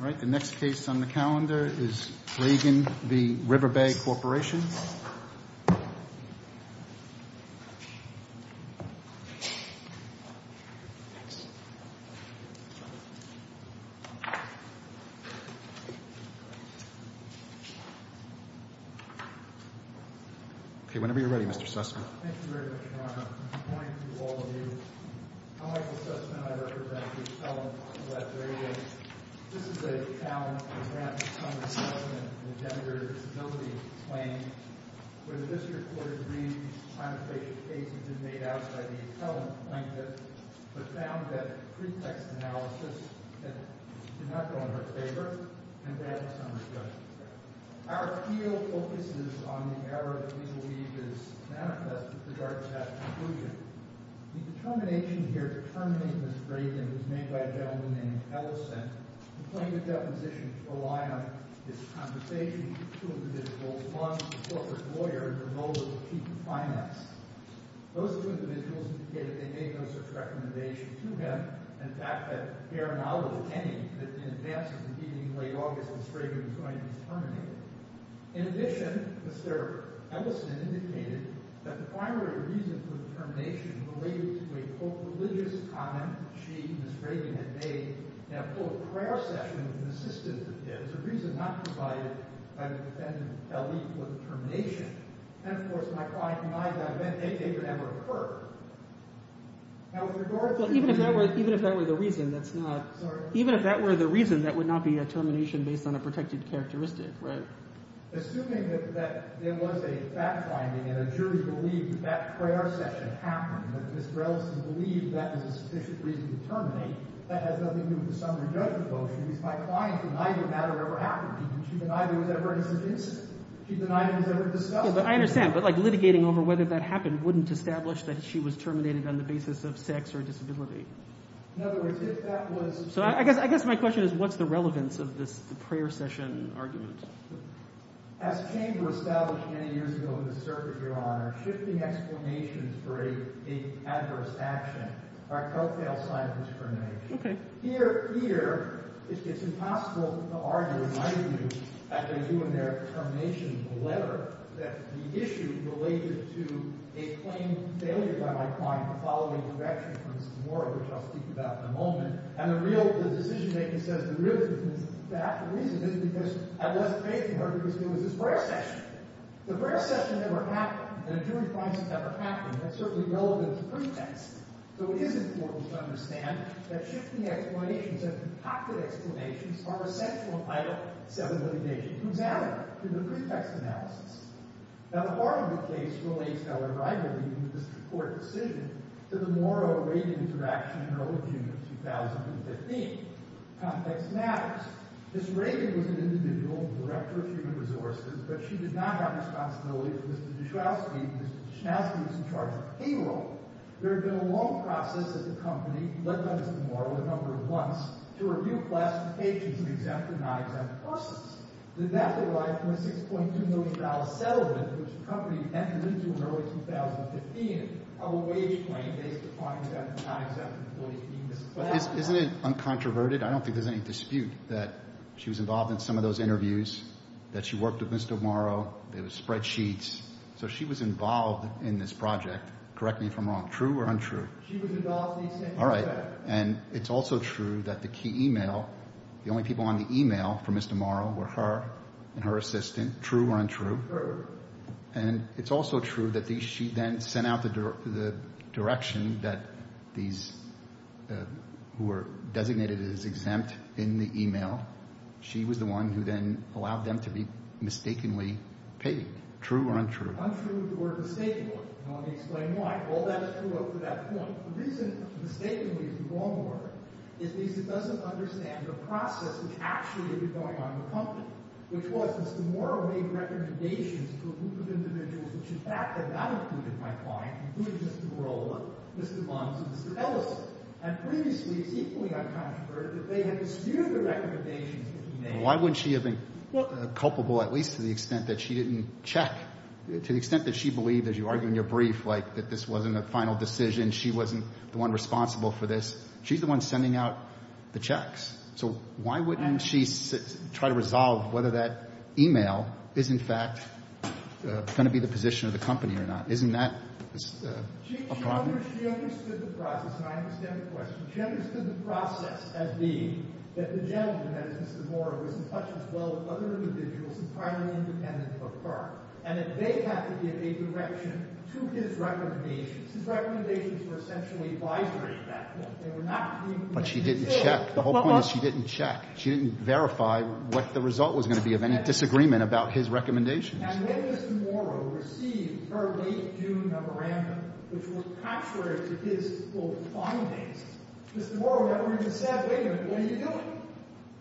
All right, the next case on the calendar is Reagan v. Riverbay Corporation. Okay, whenever you're ready, Mr. Sussman. Thank you very much, Your Honor. I'm going to point to all of you. I'm Michael Sussman, I represent the elements of that very case. This is a challenge to grant some assessment in the gender disability claim, where the district court agrees the time of creation of the case has been made out by the appellant plaintiff, but found that pretext analysis did not go in her favor, and that is under judgement. Our appeal focuses on the error that we believe is manifest with regard to that conclusion. The determination here to terminate Mr. Reagan was made by a gentleman named Ellison. The plaintiff's deposition was to rely on his conversation with two individuals, one a corporate lawyer and the other the chief of finance. Those two individuals indicated they made no such recommendation to him, and fact that there are now those attending, that in advance of the meeting in late August, Mr. Reagan was going to be terminated. In addition, Mr. Ellison indicated that the primary reason for the termination related to a co-religious comment she and Ms. Reagan had made in a prayer session with an assistant of his, a reason not provided by the defendant, Ellie, for the termination. And of course, my client and I don't think they could ever have heard. Now, with regard to... Even if that were the reason, that's not... Sorry. Even if that were the reason, that would not be a termination based on a protected characteristic, right? Assuming that there was a fact-finding and a jury believed that prayer session happened, that Mr. Ellison believed that was a sufficient reason to terminate, that has nothing to do with the summary judgment motion, because my client denied that matter ever happened. She denied there was ever an incident. She denied it was ever discussed. Yeah, but I understand. But, like, litigating over whether that happened wouldn't establish that she was terminated on the basis of sex or disability. In other words, if that was... So I guess my question is, what's the relevance of this prayer session argument? As Chamber established many years ago in the circuit, Your Honor, shifting explanations for an adverse action are a co-fail sign of discrimination. Okay. Here, it's impossible to argue, in my view, as they do in their termination letter, that the issue related to a claimed failure by my client to follow the direction from the semora, which I'll speak about in a moment, and the decision-making says the real reason is that. The real reason is because I wasn't facing her because it was this prayer session. The prayer session never happened. The jury process never happened. That's certainly relevant to pretext. So it is important to understand that shifting explanations and concocted explanations are essential in idle civil litigation. Who's at it? Through the pretext analysis. Now, the Harvard case relates, however, I believe, in this court decision to the morrow-raging interaction in early June of 2015. Context matters. Ms. Reagan was an individual, director of human resources, but she did not have responsibility for Mr. Dushnowsky, and Mr. Dushnowsky was in charge of payroll. There had been a long process at the company, led by Mr. Morrow a number of months, to review classifications of exempt and non-exempt persons. Did that derive from a $6.2 million settlement, which the company entered into in early 2015, of a wage claim based upon exempt and non-exempt employees being misclassified? Isn't it uncontroverted? I don't think there's any dispute that she was involved in some of those interviews, that she worked with Mr. Morrow, there were spreadsheets. So she was involved in this project. Correct me if I'm wrong. True or untrue? She was involved in these sentiments. All right. And it's also true that the key email, the only people on the email for Mr. Morrow, were her and her assistant. True or untrue? True. And it's also true that she then sent out the direction that these who were designated as exempt in the email, she was the one who then allowed them to be mistakenly paid. True or untrue? Untrue, or mistakenly. And let me explain why. All that is true up to that point. What isn't mistakenly is the wrong word. It means it doesn't understand the process which actually had been going on in the company, which was Mr. Morrow made recommendations to a group of individuals which in fact had not included my client, included Mr. Morrow, Mr. Bonds, and Mr. Ellis. And previously, it's equally uncontroverted that they had disagreed the recommendations that he made. Why wouldn't she have been culpable, at least to the extent that she didn't check? To the extent that she believed, as you argue in your brief, like that this wasn't a final decision, she wasn't the one responsible for this. She's the one sending out the checks. So why wouldn't she try to resolve whether that email is in fact going to be the position of the company or not? Isn't that a problem? She understood the process, and I understand the question. She understood the process as being that the gentleman, as Mr. Morrow, was in touch as well with other individuals entirely independent of her, and that they had to give a direction to his recommendations. His recommendations were essentially advisory at that point. They were not to be included. But she didn't check. The whole point is she didn't check. She didn't verify what the result was going to be of any disagreement about his recommendations. And when Mr. Morrow received her late June memorandum, which was contrary to his full findings, Mr. Morrow never even said, wait a minute, what are you doing?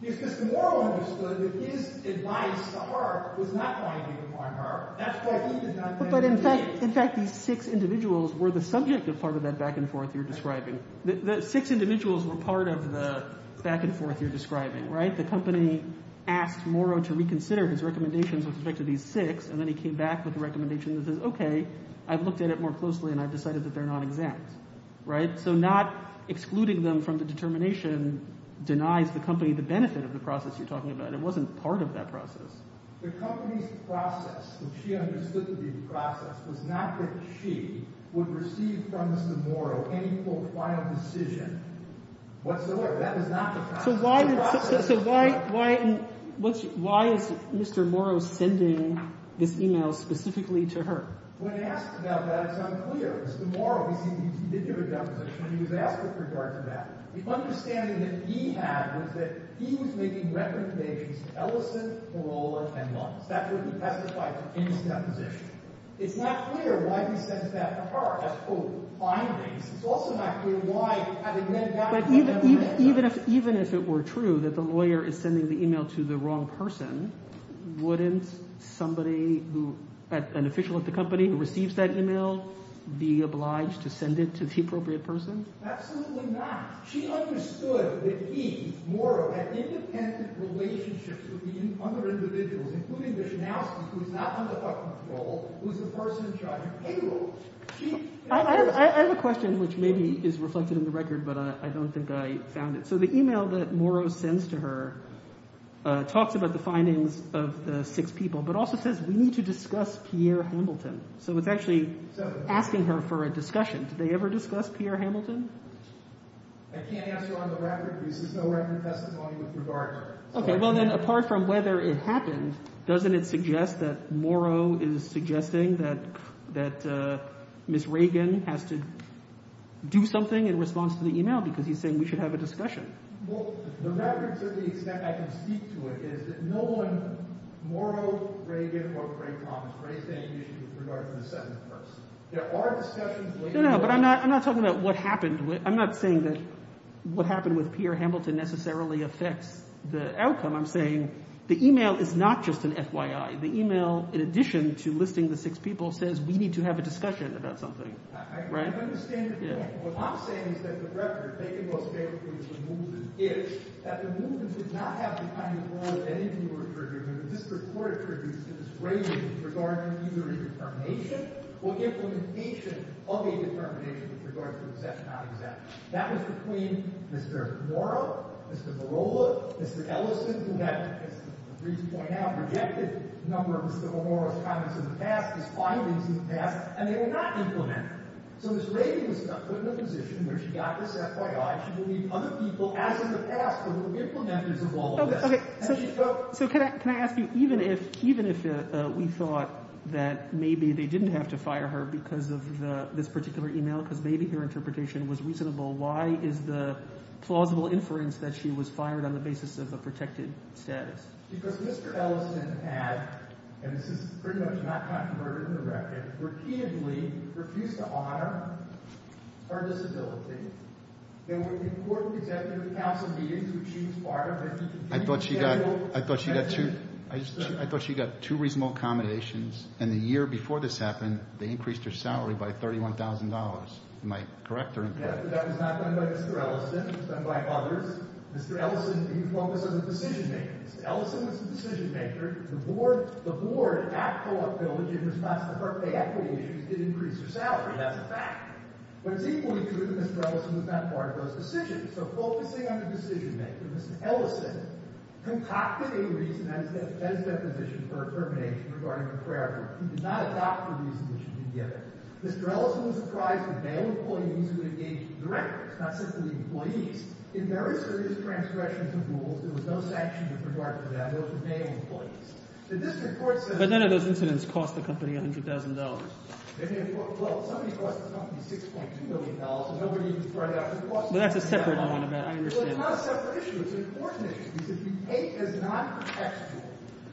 Because Mr. Morrow understood that his advice to Hart was not going to be upon her. That's why he did not have a mandate. In fact, these six individuals were the subject of part of that back-and-forth you're describing. The six individuals were part of the back-and-forth you're describing, right? The company asked Morrow to reconsider his recommendations with respect to these six, and then he came back with a recommendation that says, okay, I've looked at it more closely, and I've decided that they're not exact, right? So not excluding them from the determination denies the company the benefit of the process you're talking about. It wasn't part of that process. The company's process, which she understood to be the process, was not that she would receive from Mr. Morrow any, quote, final decision whatsoever. That is not the process. So why is Mr. Morrow sending this e-mail specifically to her? When asked about that, it's unclear. Mr. Morrow, he did give a deposition, and he was asked with regard to that. The understanding that he had was that he was making recommendations, Ellison, Parola, and Luntz. That's what he testified to in his deposition. It's not clear why he sends that to her as, quote, findings. But even if it were true that the lawyer is sending the e-mail to the wrong person, wouldn't somebody who, an official at the company who receives that e-mail, be obliged to send it to the appropriate person? Absolutely not. She understood that he, Morrow, had independent relationships with the other individuals, including the Schnauzer, who's not under our control, who's the person in charge of payroll. I have a question which maybe is reflected in the record, but I don't think I found it. So the e-mail that Morrow sends to her talks about the findings of the six people, but also says we need to discuss Pierre Hamilton. So it's actually asking her for a discussion. Did they ever discuss Pierre Hamilton? I can't answer on the record. This is no record testimony with regard to him. Okay. Well, then, apart from whether it happened, doesn't it suggest that Morrow is suggesting that Ms. Reagan has to do something in response to the e-mail, because he's saying we should have a discussion? Well, the record to the extent I can speak to it is that no one, Morrow, Reagan, or Craig Thomas, raised any issues with regard to the seventh person. There are discussions later— No, no, but I'm not talking about what happened. I'm not saying that what happened with Pierre Hamilton necessarily affects the outcome. I'm saying the e-mail is not just an FYI. The e-mail, in addition to listing the six people, says we need to have a discussion about something, right? I understand your point, but what I'm saying is that the record, taken most favorably as the movement is, that the movement did not have the kind of role that any of you referred to, the district court attributes to Ms. Reagan with regard to either a determination or implementation of a determination with regard to exempt, non-exempt. That was between Mr. Morrow, Mr. Barola, Mr. Ellison, who had, as the briefs point out, rejected a number of Mr. Morrow's comments in the past, his findings in the past, and they were not implemented. So Ms. Reagan was put in a position where she got this FYI. She believed other people, as in the past, were the implementers of all of this. Okay, so can I ask you, even if we thought that maybe they didn't have to fire her because of this particular e-mail, because maybe her interpretation was reasonable, why is the plausible inference that she was fired on the basis of a protected status? Because Mr. Ellison had, and this is pretty much not controverted in the record, repeatedly refused to honor her disability. There were important executive council meetings in which she was part of. I thought she got two reasonable accommodations, and the year before this happened, they increased her salary by $31,000. Am I correct or incorrect? That was not done by Mr. Ellison. It was done by others. Mr. Ellison, he was focused on the decision-makers. Ellison was the decision-maker. The board at Co-op Village, in response to her equity issues, did increase her salary. That's a fact. But it's equally true that Mr. Ellison was not part of those decisions. So focusing on the decision-maker, Mr. Ellison, concocted a reason as deposition for termination regarding the prayer group. He did not adopt the reason that should be given. Mr. Ellison was surprised with male employees who engaged directors, not simply employees. In very serious transgressions of rules, there was no sanction in regard to that. Those were male employees. The district court said— But none of those incidents cost the company $100,000. Well, somebody cost the company $6.2 million, and nobody even brought it up. But that's a separate issue. Well, it's not a separate issue. It's an important issue. Because if you take as non-factual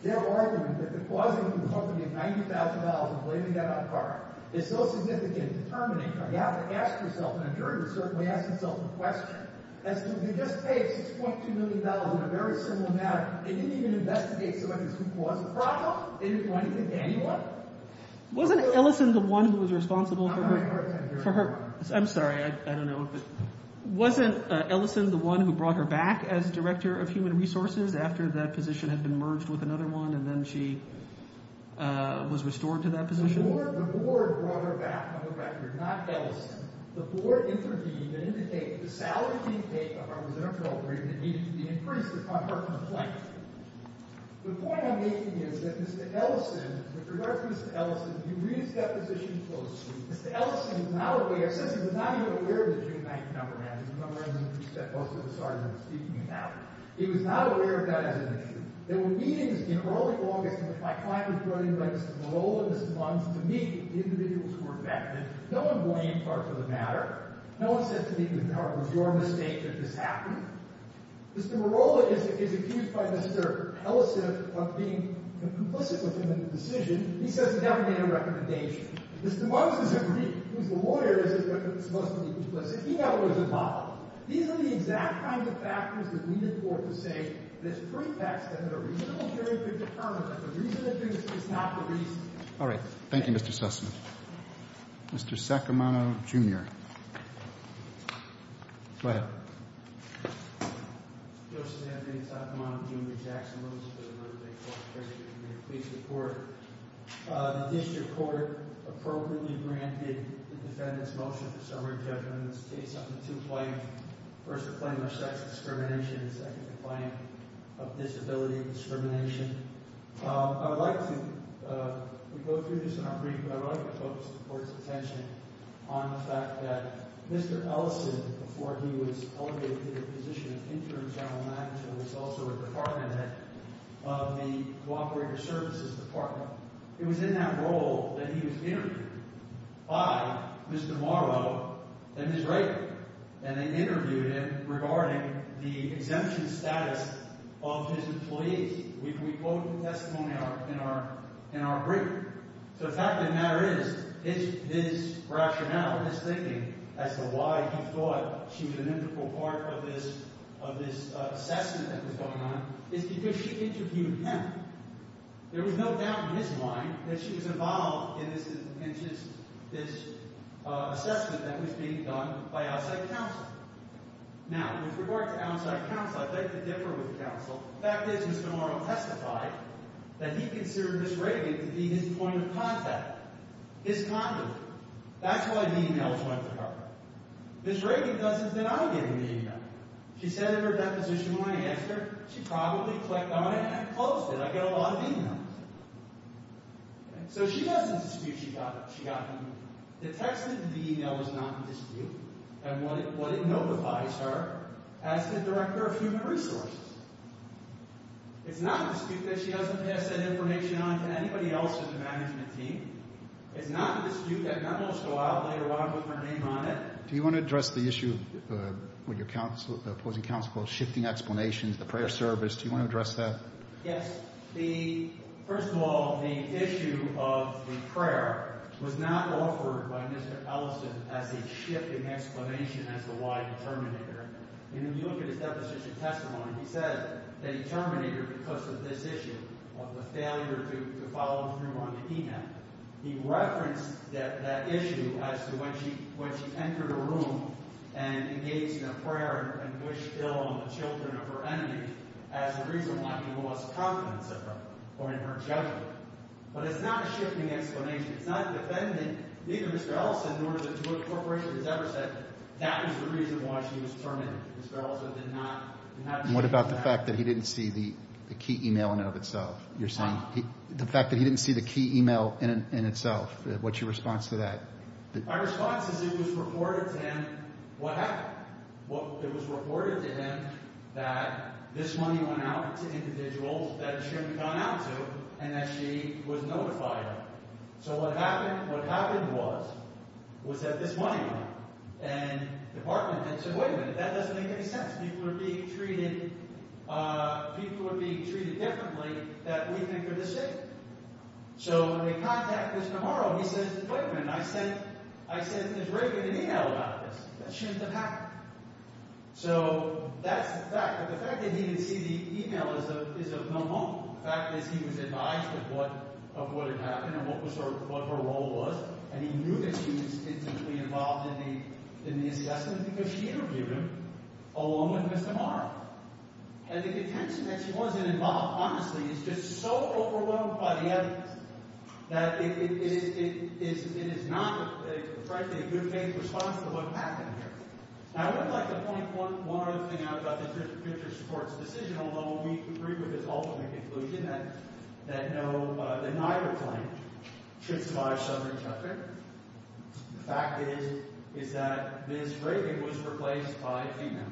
their argument that the cause of the company of $90,000 and blaming that on a car is so significant in termination, you have to ask yourself, and a jury would certainly ask themselves the question, as to if you just pay $6.2 million in a very simple matter, they didn't even investigate so much as who caused the problem. They didn't do anything to anyone. Wasn't Ellison the one who was responsible for her— I'm sorry. I don't know. I'm sorry. I don't know. Wasn't Ellison the one who brought her back as director of human resources after that position had been merged with another one and then she was restored to that position? The board brought her back on the record, not Ellison. The board intervened and indicated that the salary being paid to her was inappropriate and needed to be increased upon her complaint. The point I'm making is that Mr. Ellison, with regard to Mr. Ellison, you read his deposition closely. Mr. Ellison was not aware—since he was not even aware of the June 9th number, as you remember, and he said most of the charges I'm speaking about, he was not aware of that as an issue. There were meetings in early August in which my client was brought in by Mr. Merola and Mr. Lunds to meet individuals who were affected. No one blamed Clark for the matter. No one said to me, was your mistake that this happened? Mr. Merola is accused by Mr. Ellison of being complicit with him in the decision. He says he never made a recommendation. Mr. Lunds is aggrieved. He's the lawyer. He's supposed to be complicit. He never was involved. These are the exact kinds of factors that lead it forth to say that it's pretext and that a reasonable jury could determine that the reason it did this was not the reason. All right. Thank you, Mr. Sussman. Mr. Saccomano, Jr. Go ahead. Joseph Anthony Saccomano, Jr. Jackson Lunds for the Lund-Lake Court. Pleased to meet you. Pleased to report. The district court appropriately granted the defendant's motion for summary judgment in this case under two claims. First, the claim of sex discrimination, and second, the claim of disability discrimination. I would like to – we go through this in our brief, but I would like to focus the court's attention on the fact that Mr. Ellison, before he was elevated to the position of interim general manager, was also a department head of the Cooperative Services Department. It was in that role that he was interviewed by Mr. Merola and Ms. Raker, and they interviewed him regarding the exemption status of his employees. We quote the testimony in our brief. So the fact of the matter is his rationale, his thinking as to why he thought she was an integral part of this assessment that was going on is because she interviewed him. There was no doubt in his mind that she was involved in this assessment that was being done by outside counsel. Now, with regard to outside counsel, I'd like to differ with counsel. The fact is Mr. Merola testified that he considered Ms. Raker to be his point of contact, his conduit. That's why the e-mails went to her. Ms. Raker doesn't deny getting the e-mail. She said in her deposition when I asked her, she probably clicked on it and closed it. I get a lot of e-mails. So she doesn't dispute she got the e-mail. The text of the e-mail is not in dispute, and what it notifies her as the director of human resources. It's not in dispute that she doesn't pass that information on to anybody else in the management team. It's not in dispute that Merola will go out later on with her name on it. Do you want to address the issue with your opposing counsel called shifting explanations, the prayer service? Do you want to address that? Yes. First of all, the issue of the prayer was not offered by Mr. Ellison as a shifting explanation as to why he terminated her. When you look at his deposition testimony, he said that he terminated her because of this issue of the failure to follow through on the e-mail. He referenced that issue as to when she entered a room and engaged in a prayer and wished ill on the children of her enemies as the reason why he lost confidence in her or in her judgment. But it's not a shifting explanation. It's not a defendant. Neither Mr. Ellison nor the Jewish Corporation has ever said that was the reason why she was terminated. Mr. Ellison did not. And what about the fact that he didn't see the key e-mail in and of itself? You're saying the fact that he didn't see the key e-mail in itself, what's your response to that? My response is it was reported to him what happened. It was reported to him that this money went out to individuals that she had gone out to and that she was notified of. So what happened was that this money went out. And the department said, wait a minute. That doesn't make any sense. People are being treated – people are being treated differently that we think are the same. So when they contact us tomorrow, he says, wait a minute. I sent – I sent this regular e-mail about this. That shouldn't have happened. So that's the fact. But the fact that he didn't see the e-mail is of no harm. The fact is he was advised of what – of what had happened and what was her – what her role was. And he knew that she was distinctly involved in the – in the assessment because she interviewed him along with Mr. Maher. And the contention that she wasn't involved, honestly, is just so overwhelmed by the evidence that it is – it is not, frankly, a good faith response to what happened here. I would like to point one other thing out about the district court's decision. Although we agree with its ultimate conclusion that no – that neither claim should survive summary trusting, the fact is, is that Ms. Grady was replaced by a female.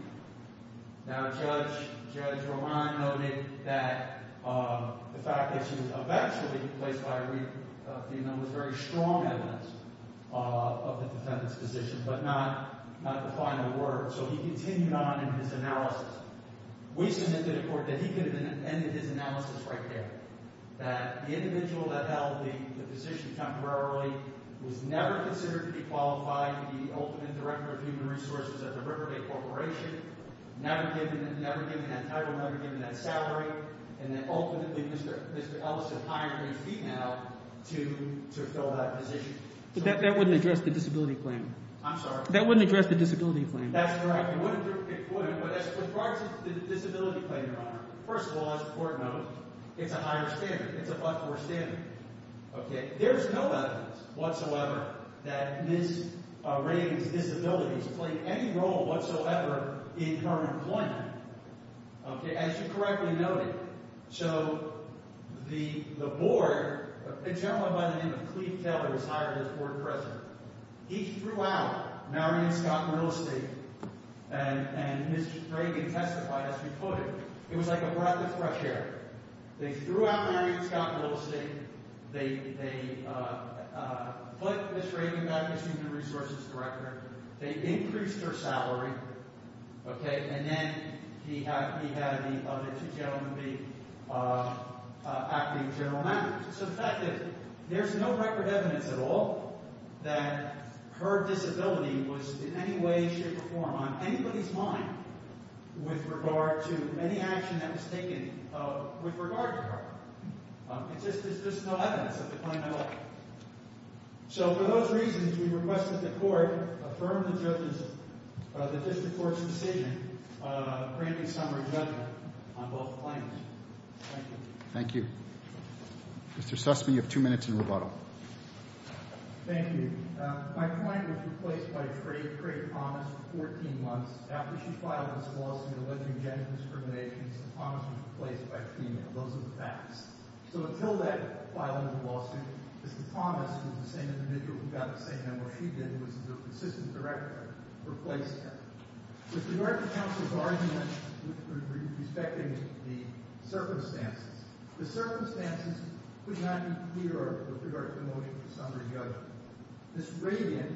Now, Judge – Judge Romine noted that the fact that she was eventually replaced by a female was very strong evidence of the defendant's position, but not – not the final word. So he continued on in his analysis. We submitted to the court that he could have ended his analysis right there, that the individual that held the position temporarily was never considered to be qualified to be the ultimate director of human resources at the Riverdake Corporation. Never given – never given that title, never given that salary, and then ultimately Mr. Ellison hired a female to fill that position. But that wouldn't address the disability claim. I'm sorry? That wouldn't address the disability claim. That's correct. It wouldn't. It wouldn't. But as far as the disability claim, Your Honor, first of all, as the court noted, it's a higher standard. It's a buffer standard. Okay. There's no evidence whatsoever that Ms. Grady's disabilities played any role whatsoever in her employment. Okay. As you correctly noted, so the board – a gentleman by the name of Cleve Taylor was hired as board president. He threw out Marion Scott and Real Estate, and Ms. Grady testified as she quoted. It was like a breath of fresh air. They threw out Marion Scott and Real Estate. They put Ms. Grady back as human resources director. They increased her salary. Okay. And then he had the other two gentlemen be acting general managers. There's no record evidence at all that her disability was in any way, shape, or form on anybody's mind with regard to any action that was taken with regard to her. It's just no evidence of the claim at all. So for those reasons, we request that the court affirm the district court's decision granting summary judgment on both claims. Thank you. Thank you. Mr. Sussman, you have two minutes in rebuttal. Thank you. My client was replaced by a trade – trade promise for 14 months. After she filed this lawsuit alleging gender discrimination, the promise was replaced by female. Those are the facts. So until that filing of the lawsuit, Mr. Thomas was the same individual who got the same number. What she did was the assistant director replaced her. With regard to counsel's argument with respect to the circumstances, the circumstances would not be clear with regard to the motion for summary judgment. Ms. Radian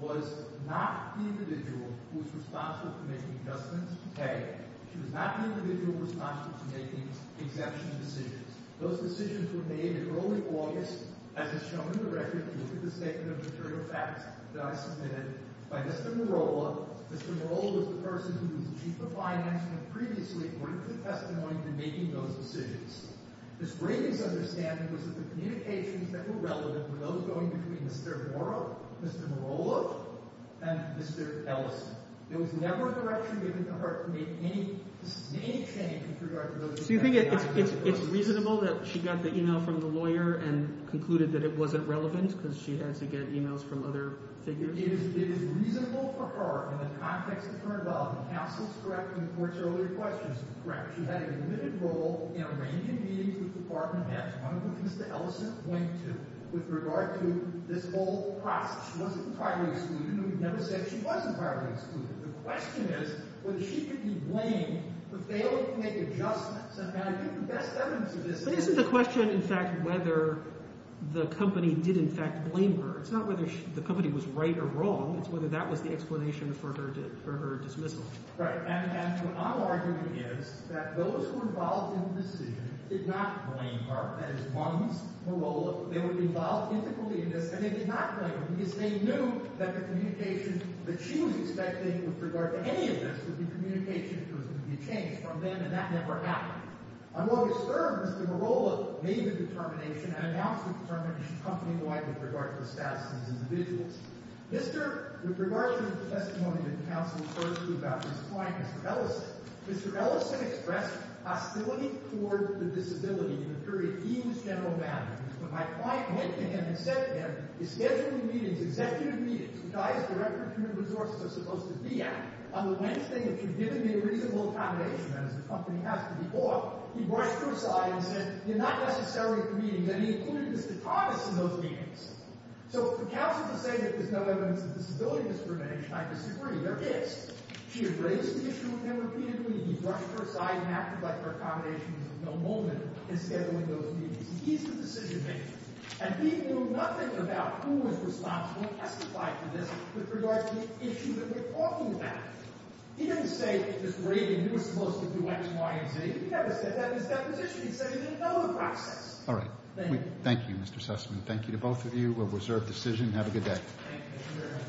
was not the individual who was responsible for making adjustments to pay. She was not the individual responsible for making exemption decisions. Those decisions were made in early August, as is shown in the record. You look at the statement of material facts that I submitted by Mr. Morolla. Mr. Morolla was the person who was the chief of finance and had previously given testimony to making those decisions. Ms. Radian's understanding was that the communications that were relevant were those going between Mr. Morolla, Mr. Morolla, and Mr. Ellison. There was never a direction given to her to make any – make any change with regard to those – So you think it's reasonable that she got the email from the lawyer and concluded that it wasn't relevant because she had to get emails from other figures? It is reasonable for her in the context of her involvement. Counsel is correct in the court's earlier questions. Correct. She had a limited role in a range of meetings with the department heads, one of which is that Ellison went to, with regard to this whole process. She wasn't entirely excluded, and we've never said she was entirely excluded. The question is whether she could be blamed for failing to make adjustments and how to get the best evidence of this. But isn't the question in fact whether the company did in fact blame her? It's not whether the company was right or wrong. It's whether that was the explanation for her dismissal. Right. And what I'm arguing is that those who were involved in the decision did not blame her. That is, Mums, Morolla. They were involved integrally in this, and they did not blame her because they knew that the communication that she was expecting with regard to any of this would be communication that was going to be changed from then, and that never happened. On August 3rd, Mr. Morolla made the determination and announced the determination company-wide with regard to the status of these individuals. Mr. — with regard to the testimony that counsel asserted about his client, Mr. Ellison, Mr. Ellison expressed hostility toward the disability in the period he was general manager. But my client went to him and said to him, he's scheduling meetings, executive meetings, the guys director of human resources are supposed to be at. On the Wednesday that you've given me a reasonable accommodation, that is, the company has to be off, he brushed her aside and said, you're not necessarily at the meetings. And he included Mr. Thomas in those meetings. So for counsel to say that there's no evidence of disability discrimination, I disagree. There is. She has raised the issue with him repeatedly. He brushed her aside and acted like her accommodation was of no moment in scheduling those meetings. He's the decision-maker. And he knew nothing about who was responsible and testified to this with regard to the issue that we're talking about. He didn't say Mr. Ray, you were supposed to do X, Y, and Z. He never said that in his deposition. He said he didn't know the process. All right. Thank you, Mr. Sussman. Thank you to both of you. We'll reserve decision. Have a good day. Thank you, Mr. Chairman.